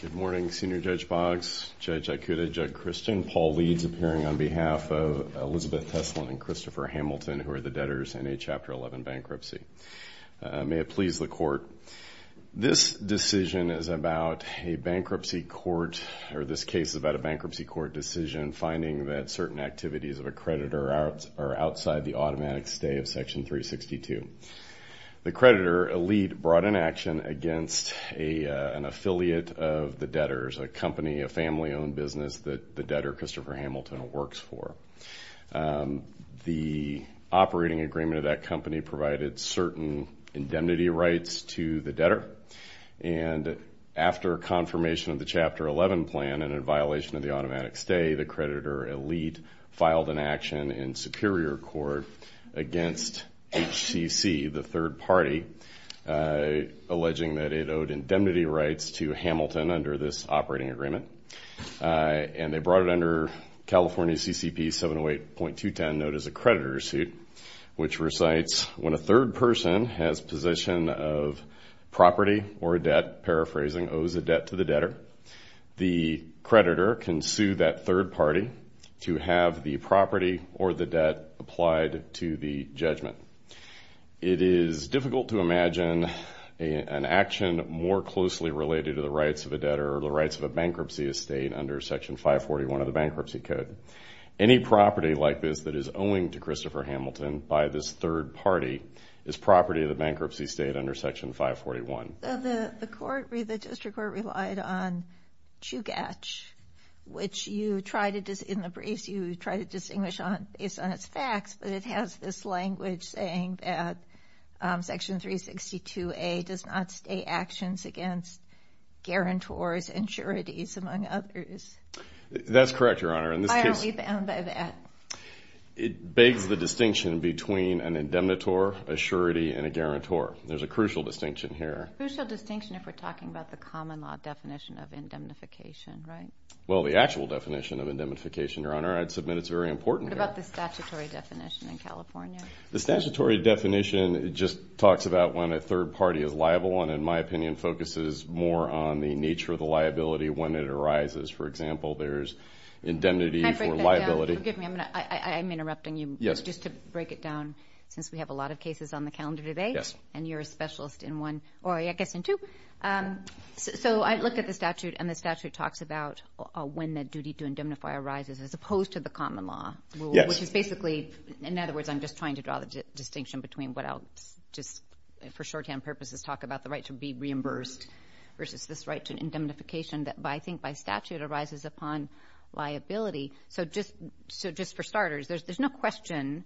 Good morning, Senior Judge Boggs, Judge Ikuda, Judge Christian. Paul Leeds, appearing on behalf of Elizabeth Teslin and Christopher Hamilton, who are the debtors in a Chapter 11 bankruptcy. May it please the Court. This decision is about a bankruptcy court, or this case is about a bankruptcy court decision finding that certain activities of a creditor are outside the automatic stay of Section 362. The creditor, Elite, brought an action against an affiliate of the debtors, a company, a family-owned business that the debtor, Christopher Hamilton, works for. The operating agreement of that company provided certain indemnity rights to the debtor, and after confirmation of the Chapter 11 plan and in violation of the automatic stay, the creditor, Elite, filed an action in superior court against HCC, the third party, alleging that it owed indemnity rights to Hamilton under this operating agreement. And they brought it under California CCP 708.210, known as a creditor suit, which recites when a third person has position of property or debt, paraphrasing, owes a debt to the debtor, the creditor can sue that third party to have the property or the debt applied to the judgment. It is difficult to imagine an action more closely related to the rights of a debtor or the rights of a bankruptcy estate under Section 541 of the Bankruptcy Code. Any property like this that is owing to Christopher Hamilton by this third party is property of the bankruptcy estate under Section 541. The court, the district court, relied on Chugach, which you try to, in the briefs, you try to distinguish based on its facts, but it has this language saying that Section 362A does not stay actions against guarantors and sureties, among others. That's correct, Your Honor. Why aren't we bound by that? It begs the distinction between an indemnitor, a surety, and a guarantor. There's a crucial distinction here. A crucial distinction if we're talking about the common law definition of indemnification, right? Well, the actual definition of indemnification, Your Honor, I'd submit it's very important. What about the statutory definition in California? The statutory definition just talks about when a third party is liable and, in my opinion, focuses more on the nature of the liability when it arises. For example, there's indemnity for liability. Can I break that down? Forgive me, I'm interrupting you. Yes. Just to break it down, since we have a lot of cases on the calendar today. Yes. And you're a specialist in one, or I guess in two. So I looked at the statute, and the statute talks about when the duty to indemnify arises as opposed to the common law. Yes. Which is basically, in other words, I'm just trying to draw the distinction between what I'll just, for shorthand purposes, talk about the right to be reimbursed versus this right to indemnification that I think by statute arises upon liability. So just for starters, there's no question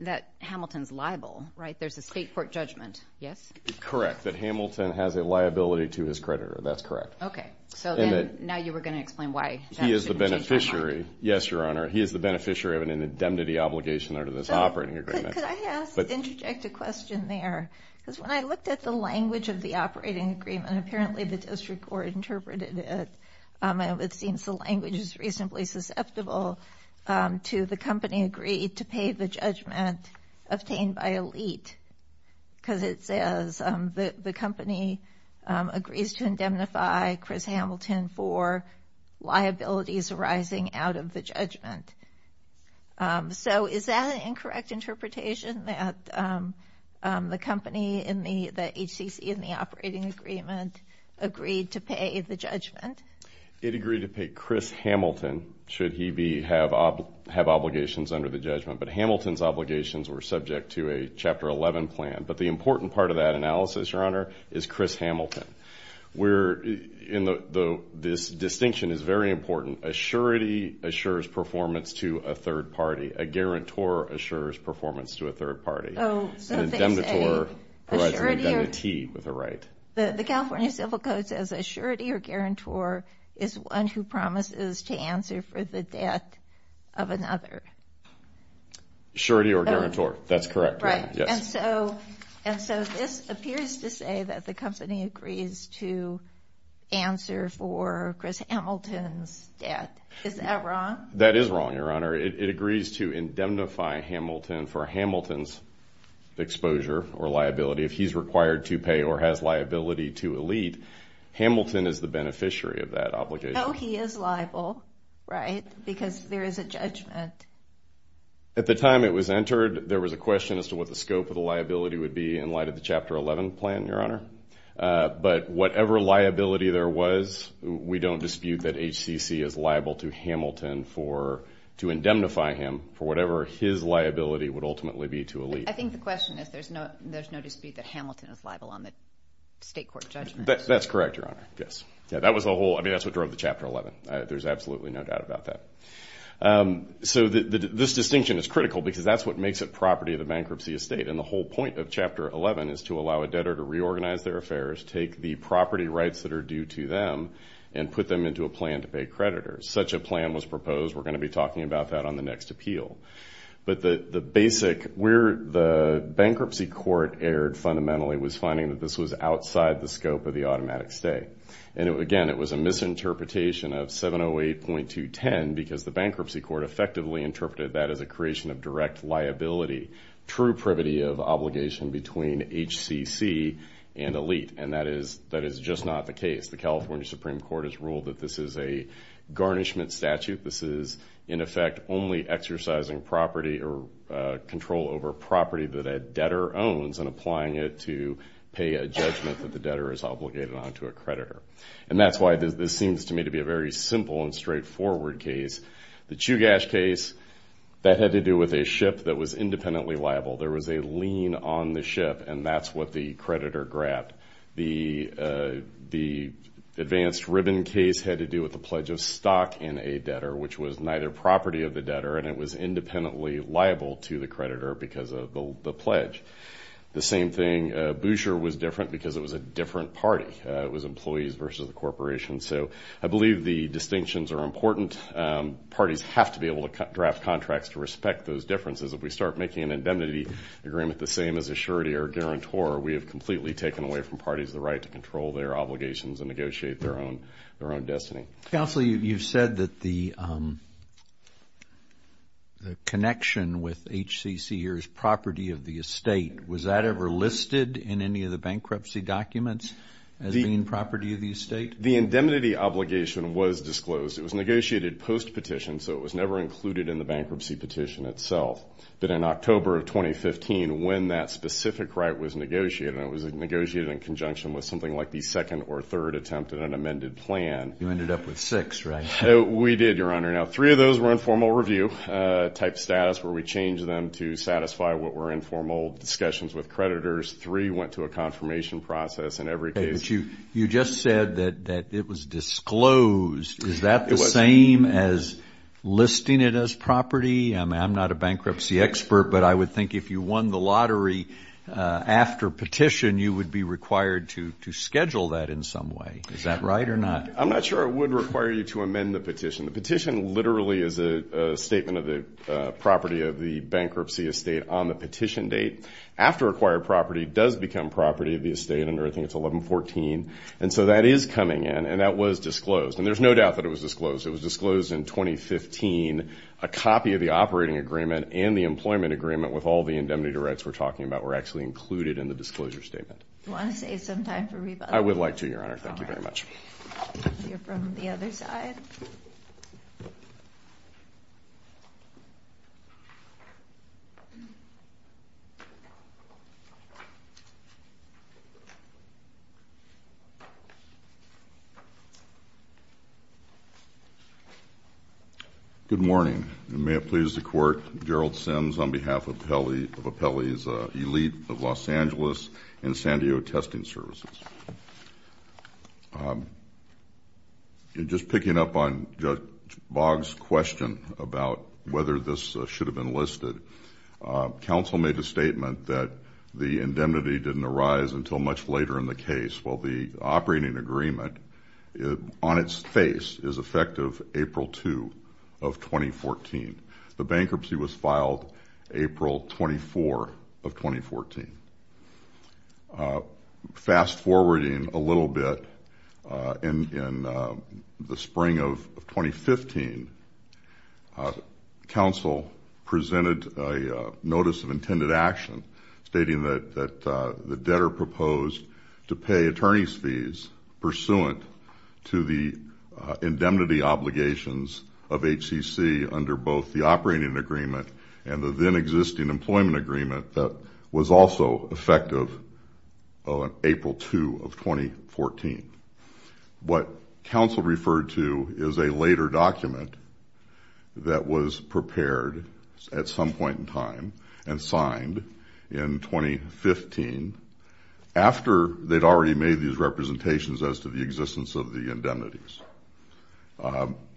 that Hamilton's liable, right? There's a state court judgment, yes? Correct. That Hamilton has a liability to his creditor. That's correct. Okay. So then now you were going to explain why that should be taken out. He is the beneficiary. Yes, Your Honor. He is the beneficiary of an indemnity obligation under this operating agreement. Could I interject a question there? Because when I looked at the language of the operating agreement, apparently the district court interpreted it. It seems the language is reasonably susceptible to the company agreed to pay the judgment obtained by elite. Because it says the company agrees to indemnify Chris Hamilton for liabilities arising out of the judgment. So is that an incorrect interpretation that the company in the HCC in the operating agreement agreed to pay the judgment? It agreed to pay Chris Hamilton should he have obligations under the judgment. But Hamilton's obligations were subject to a Chapter 11 plan. But the important part of that analysis, Your Honor, is Chris Hamilton. This distinction is very important. Assurity assures performance to a third party. A guarantor assures performance to a third party. An indemnitor provides an indemnity with a right. The California Civil Code says assurity or guarantor is one who promises to answer for the debt of another. Assurity or guarantor. That's correct. Right. And so this appears to say that the company agrees to answer for Chris Hamilton's debt. Is that wrong? That is wrong, Your Honor. It agrees to indemnify Hamilton for Hamilton's exposure or liability if he's required to pay or has liability to elite. Hamilton is the beneficiary of that obligation. So he is liable, right, because there is a judgment. At the time it was entered, there was a question as to what the scope of the liability would be in light of the Chapter 11 plan, Your Honor. But whatever liability there was, we don't dispute that HCC is liable to Hamilton to indemnify him for whatever his liability would ultimately be to elite. I think the question is there's no dispute that Hamilton is liable on the state court judgment. That's correct, Your Honor. Yes. That's what drove the Chapter 11. There's absolutely no doubt about that. So this distinction is critical because that's what makes it property of the bankruptcy estate, and the whole point of Chapter 11 is to allow a debtor to reorganize their affairs, take the property rights that are due to them, and put them into a plan to pay creditors. Such a plan was proposed. We're going to be talking about that on the next appeal. But the basic, where the bankruptcy court erred fundamentally was finding that this was outside the scope of the automatic stay. Again, it was a misinterpretation of 708.210 because the bankruptcy court effectively interpreted that as a creation of direct liability, true privity of obligation between HCC and elite, and that is just not the case. The California Supreme Court has ruled that this is a garnishment statute. This is, in effect, only exercising property or control over property that a debtor owns and applying it to pay a judgment that the debtor is obligated on to a creditor. And that's why this seems to me to be a very simple and straightforward case. The Chugash case, that had to do with a ship that was independently liable. There was a lien on the ship, and that's what the creditor grabbed. The advanced ribbon case had to do with the pledge of stock in a debtor, which was neither property of the debtor, and it was independently liable to the creditor because of the pledge. The same thing, Boucher was different because it was a different party. It was employees versus the corporation. So I believe the distinctions are important. Parties have to be able to draft contracts to respect those differences. If we start making an indemnity agreement the same as a surety or a guarantor, we have completely taken away from parties the right to control their obligations and negotiate their own destiny. Counsel, you've said that the connection with HCC here is property of the estate. Was that ever listed in any of the bankruptcy documents as being property of the estate? The indemnity obligation was disclosed. It was negotiated post-petition, so it was never included in the bankruptcy petition itself. But in October of 2015, when that specific right was negotiated, and it was negotiated in conjunction with something like the second or third attempt at an amended plan. You ended up with six, right? We did, Your Honor. Now, three of those were informal review-type status, where we changed them to satisfy what were informal discussions with creditors. Three went to a confirmation process in every case. You just said that it was disclosed. Is that the same as listing it as property? I'm not a bankruptcy expert, but I would think if you won the lottery after petition, you would be required to schedule that in some way. Is that right or not? I'm not sure it would require you to amend the petition. The petition literally is a statement of the property of the bankruptcy estate on the petition date. After acquired property, it does become property of the estate under, I think it's 1114. And so that is coming in, and that was disclosed. And there's no doubt that it was disclosed. It was disclosed in 2015. A copy of the operating agreement and the employment agreement with all the indemnity rights we're talking about were actually included in the disclosure statement. Do you want to save some time for rebuttal? I would like to, Your Honor. Thank you very much. We'll hear from the other side. Good morning. Gerald Sims on behalf of Apelli's Elite of Los Angeles and San Diego Testing Services. Just picking up on Judge Boggs' question about whether this should have been listed, counsel made a statement that the indemnity didn't arise until much later in the case. Well, the operating agreement on its face is effective April 2 of 2014. The bankruptcy was filed April 24 of 2014. Fast-forwarding a little bit, in the spring of 2015, counsel presented a notice of intended action stating that the debtor proposed to pay attorney's fees pursuant to the indemnity obligations of HCC under both the operating agreement and the then-existing employment agreement that was also effective on April 2 of 2014. What counsel referred to is a later document that was prepared at some point in time and signed in 2015. After they'd already made these representations as to the existence of the indemnities.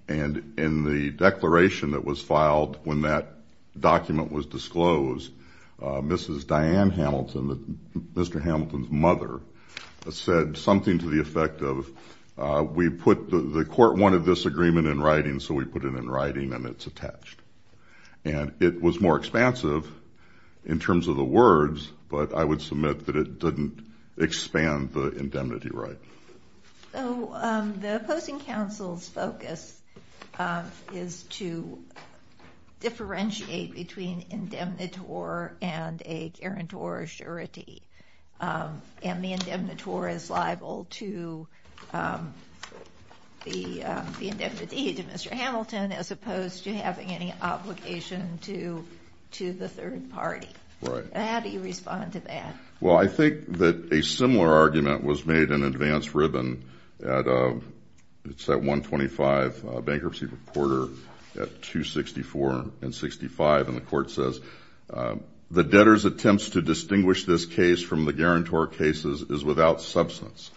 And in the declaration that was filed when that document was disclosed, Mrs. Diane Hamilton, Mr. Hamilton's mother, said something to the effect of, the court wanted this agreement in writing, so we put it in writing and it's attached. And it was more expansive in terms of the words, but I would submit that it didn't expand the indemnity right. So the opposing counsel's focus is to differentiate between indemnitor and a guarantor surety. And the indemnitor is liable to the indemnity to Mr. Hamilton, as opposed to having any obligation to the third party. Right. How do you respond to that? Well, I think that a similar argument was made in advance ribbon at 125 Bankruptcy Reporter at 264 and 65. And the court says, the debtor's attempts to distinguish this case from the guarantor cases is without substance.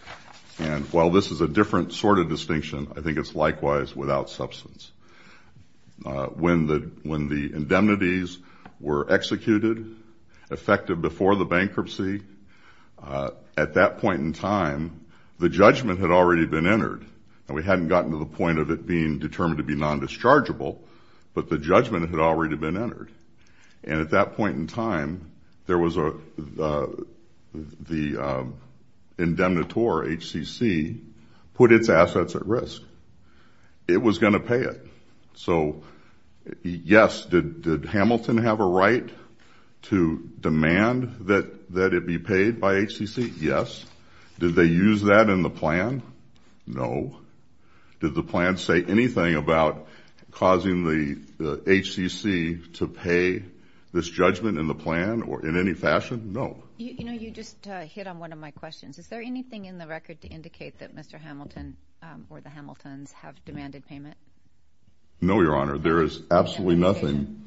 And while this is a different sort of distinction, I think it's likewise without substance. When the indemnities were executed, effective before the bankruptcy, at that point in time, the judgment had already been entered. And we hadn't gotten to the point of it being determined to be non-dischargeable, but the judgment had already been entered. And at that point in time, there was the indemnitor, HCC, put its assets at risk. It was going to pay it. So, yes, did Hamilton have a right to demand that it be paid by HCC? Yes. Did they use that in the plan? No. Did the plan say anything about causing the HCC to pay this judgment in the plan or in any fashion? No. You know, you just hit on one of my questions. Is there anything in the record to indicate that Mr. Hamilton or the Hamiltons have demanded payment? No, Your Honor. There is absolutely nothing.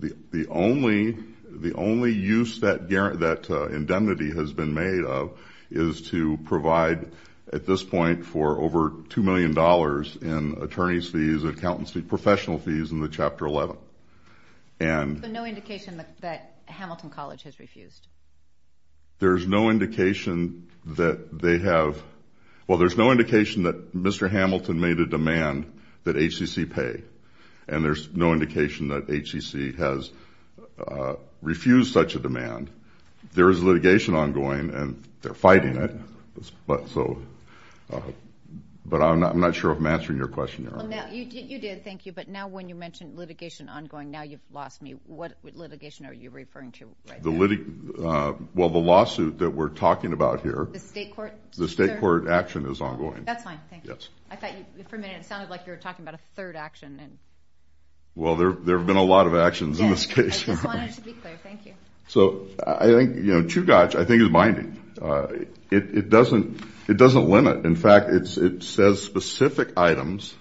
The only use that indemnity has been made of is to provide, at this point, for over $2 million in attorney's fees, accountancy, professional fees in the Chapter 11. But no indication that Hamilton College has refused? There's no indication that they have – well, there's no indication that Mr. Hamilton made a demand that HCC pay. And there's no indication that HCC has refused such a demand. There is litigation ongoing, and they're fighting it. But I'm not sure if I'm answering your question, Your Honor. You did, thank you. But now when you mention litigation ongoing, now you've lost me. What litigation are you referring to right now? Well, the lawsuit that we're talking about here. The state court? The state court action is ongoing. That's fine, thank you. Yes. I thought for a minute it sounded like you were talking about a third action. Well, there have been a lot of actions in this case. Yes, I just wanted to be clear. Thank you. So I think, you know, Chugach, I think, is binding. It doesn't limit. In fact, it says specific items,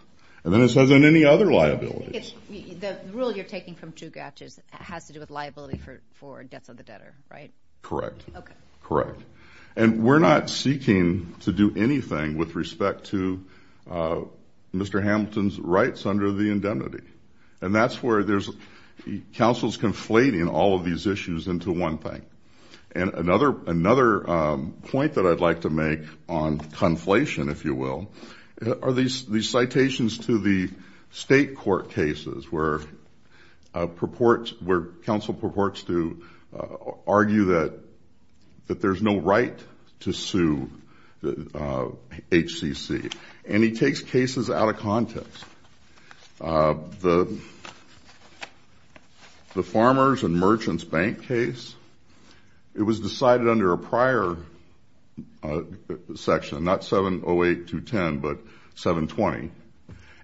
and then it says on any other liabilities. The rule you're taking from Chugach has to do with liability for debts of the debtor, right? Correct. Okay. Correct. And we're not seeking to do anything with respect to Mr. Hamilton's rights under the indemnity. And that's where there's counsels conflating all of these issues into one thing. And another point that I'd like to make on conflation, if you will, are these citations to the state court cases where counsel purports to argue that there's no right to sue HCC. And he takes cases out of context. The Farmers and Merchants Bank case, it was decided under a prior section, not 708-210, but 720.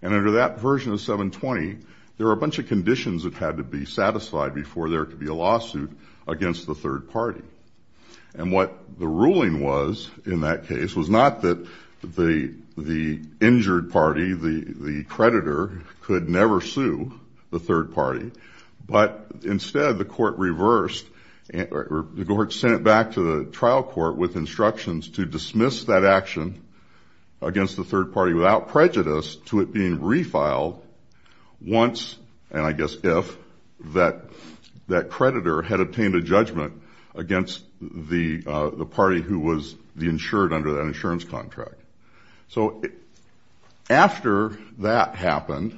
And under that version of 720, there were a bunch of conditions that had to be satisfied before there could be a lawsuit against the third party. And what the ruling was in that case was not that the injured party, the creditor, could never sue the third party, but instead the court reversed or sent it back to the trial court with instructions to dismiss that action against the third party without prejudice to it being refiled once, and I guess if, that creditor had obtained a judgment against the party who was the insured under that insurance contract. So after that happened,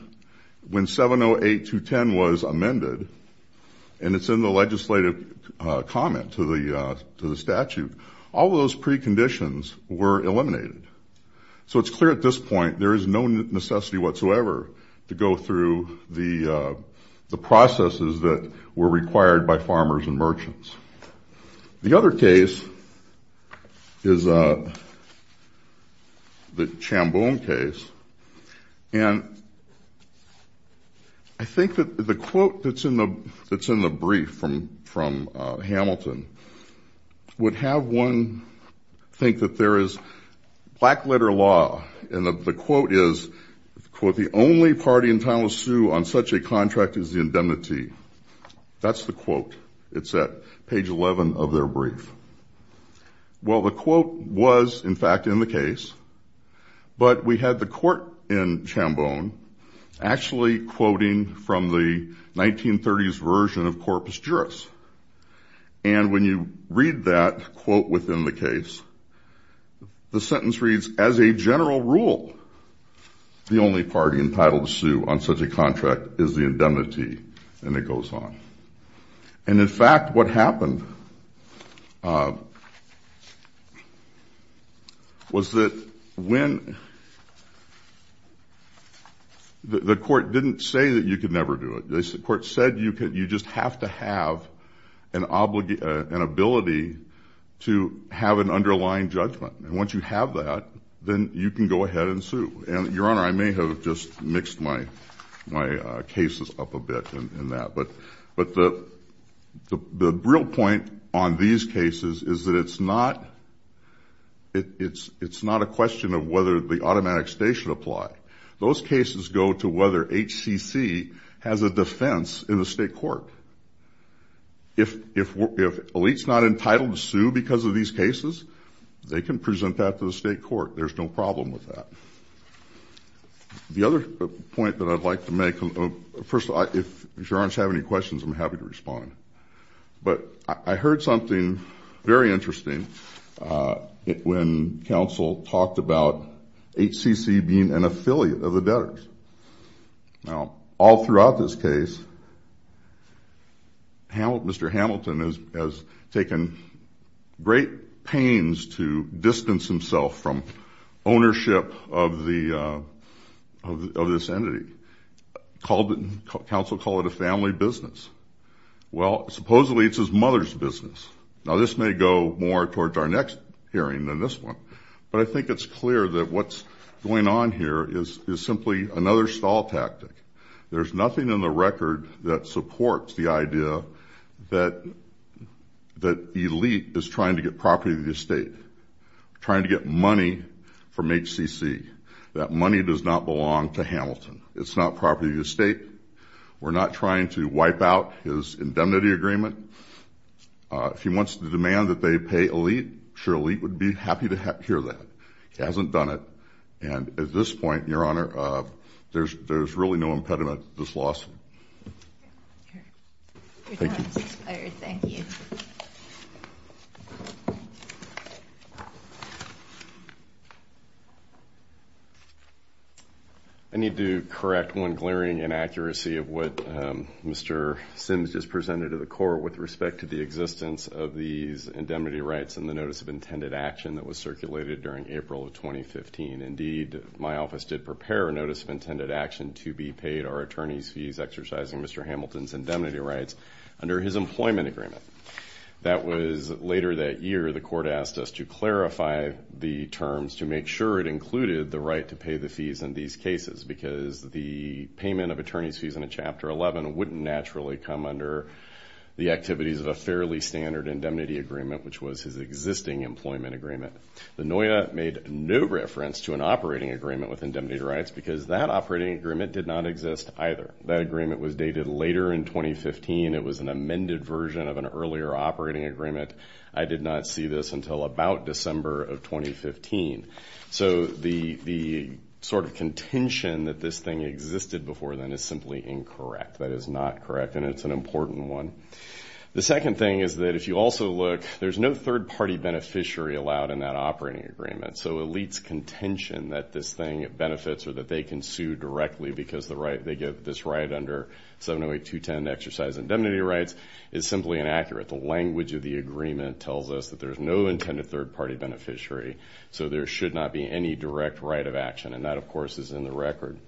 when 708-210 was amended, and it's in the legislative comment to the statute, all those preconditions were eliminated. So it's clear at this point there is no necessity whatsoever to go through the processes that were required by farmers and merchants. The other case is the Chamboon case. And I think that the quote that's in the brief from Hamilton would have one think that there is, black letter law, and the quote is, quote, That's the quote. It's at page 11 of their brief. Well, the quote was, in fact, in the case, but we had the court in Chamboon actually quoting from the 1930s version of Corpus Juris. And when you read that quote within the case, the sentence reads, As a general rule, the only party entitled to sue on such a contract is the indemnity. And it goes on. And in fact, what happened was that when the court didn't say that you could never do it. The court said you just have to have an ability to have an underlying judgment. And once you have that, then you can go ahead and sue. And, Your Honor, I may have just mixed my cases up a bit in that. But the real point on these cases is that it's not a question of whether the automatic stay should apply. Those cases go to whether HCC has a defense in the state court. If elite's not entitled to sue because of these cases, they can present that to the state court. There's no problem with that. The other point that I'd like to make, first, if Your Honors have any questions, I'm happy to respond. But I heard something very interesting when counsel talked about HCC being an affiliate of the debtors. Now, all throughout this case, Mr. Hamilton has taken great pains to distance himself from ownership of this entity. Counsel called it a family business. Well, supposedly it's his mother's business. Now, this may go more towards our next hearing than this one. But I think it's clear that what's going on here is simply another stall tactic. There's nothing in the record that supports the idea that elite is trying to get property of the estate, trying to get money from HCC, that money does not belong to Hamilton. It's not property of the estate. We're not trying to wipe out his indemnity agreement. If he wants to demand that they pay elite, sure, elite would be happy to hear that. He hasn't done it. And at this point, Your Honor, there's really no impediment to this loss. Your time has expired. Thank you. I need to correct one glaring inaccuracy of what Mr. Sims just presented to the court with respect to the existence of these indemnity rights and the notice of intended action that was circulated during April of 2015. Indeed, my office did prepare a notice of intended action to be paid our attorney's fees exercising Mr. Hamilton's indemnity rights under his employment agreement. That was later that year. The court asked us to clarify the terms to make sure it included the right to pay the fees in these cases, because the payment of attorney's fees in Chapter 11 wouldn't naturally come under the activities of a fairly standard indemnity agreement, which was his existing employment agreement. The NOIA made no reference to an operating agreement with indemnity rights, because that operating agreement did not exist either. That agreement was dated later in 2015. It was an amended version of an earlier operating agreement. I did not see this until about December of 2015. So the sort of contention that this thing existed before then is simply incorrect. That is not correct, and it's an important one. The second thing is that if you also look, there's no third-party beneficiary allowed in that operating agreement. So ELITE's contention that this thing benefits or that they can sue directly because they give this right under 708.210 to exercise indemnity rights is simply inaccurate. The language of the agreement tells us that there's no intended third-party beneficiary, so there should not be any direct right of action, and that, of course, is in the record.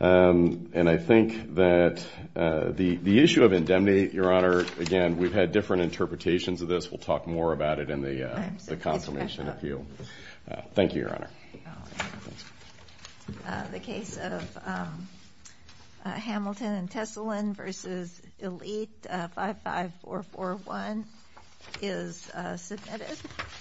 And I think that the issue of indemnity, Your Honor, again, we've had different interpretations of this. We'll talk more about it in the confirmation appeal. Thank you, Your Honor. The case of Hamilton and Tesselin versus ELITE 55441 is submitted.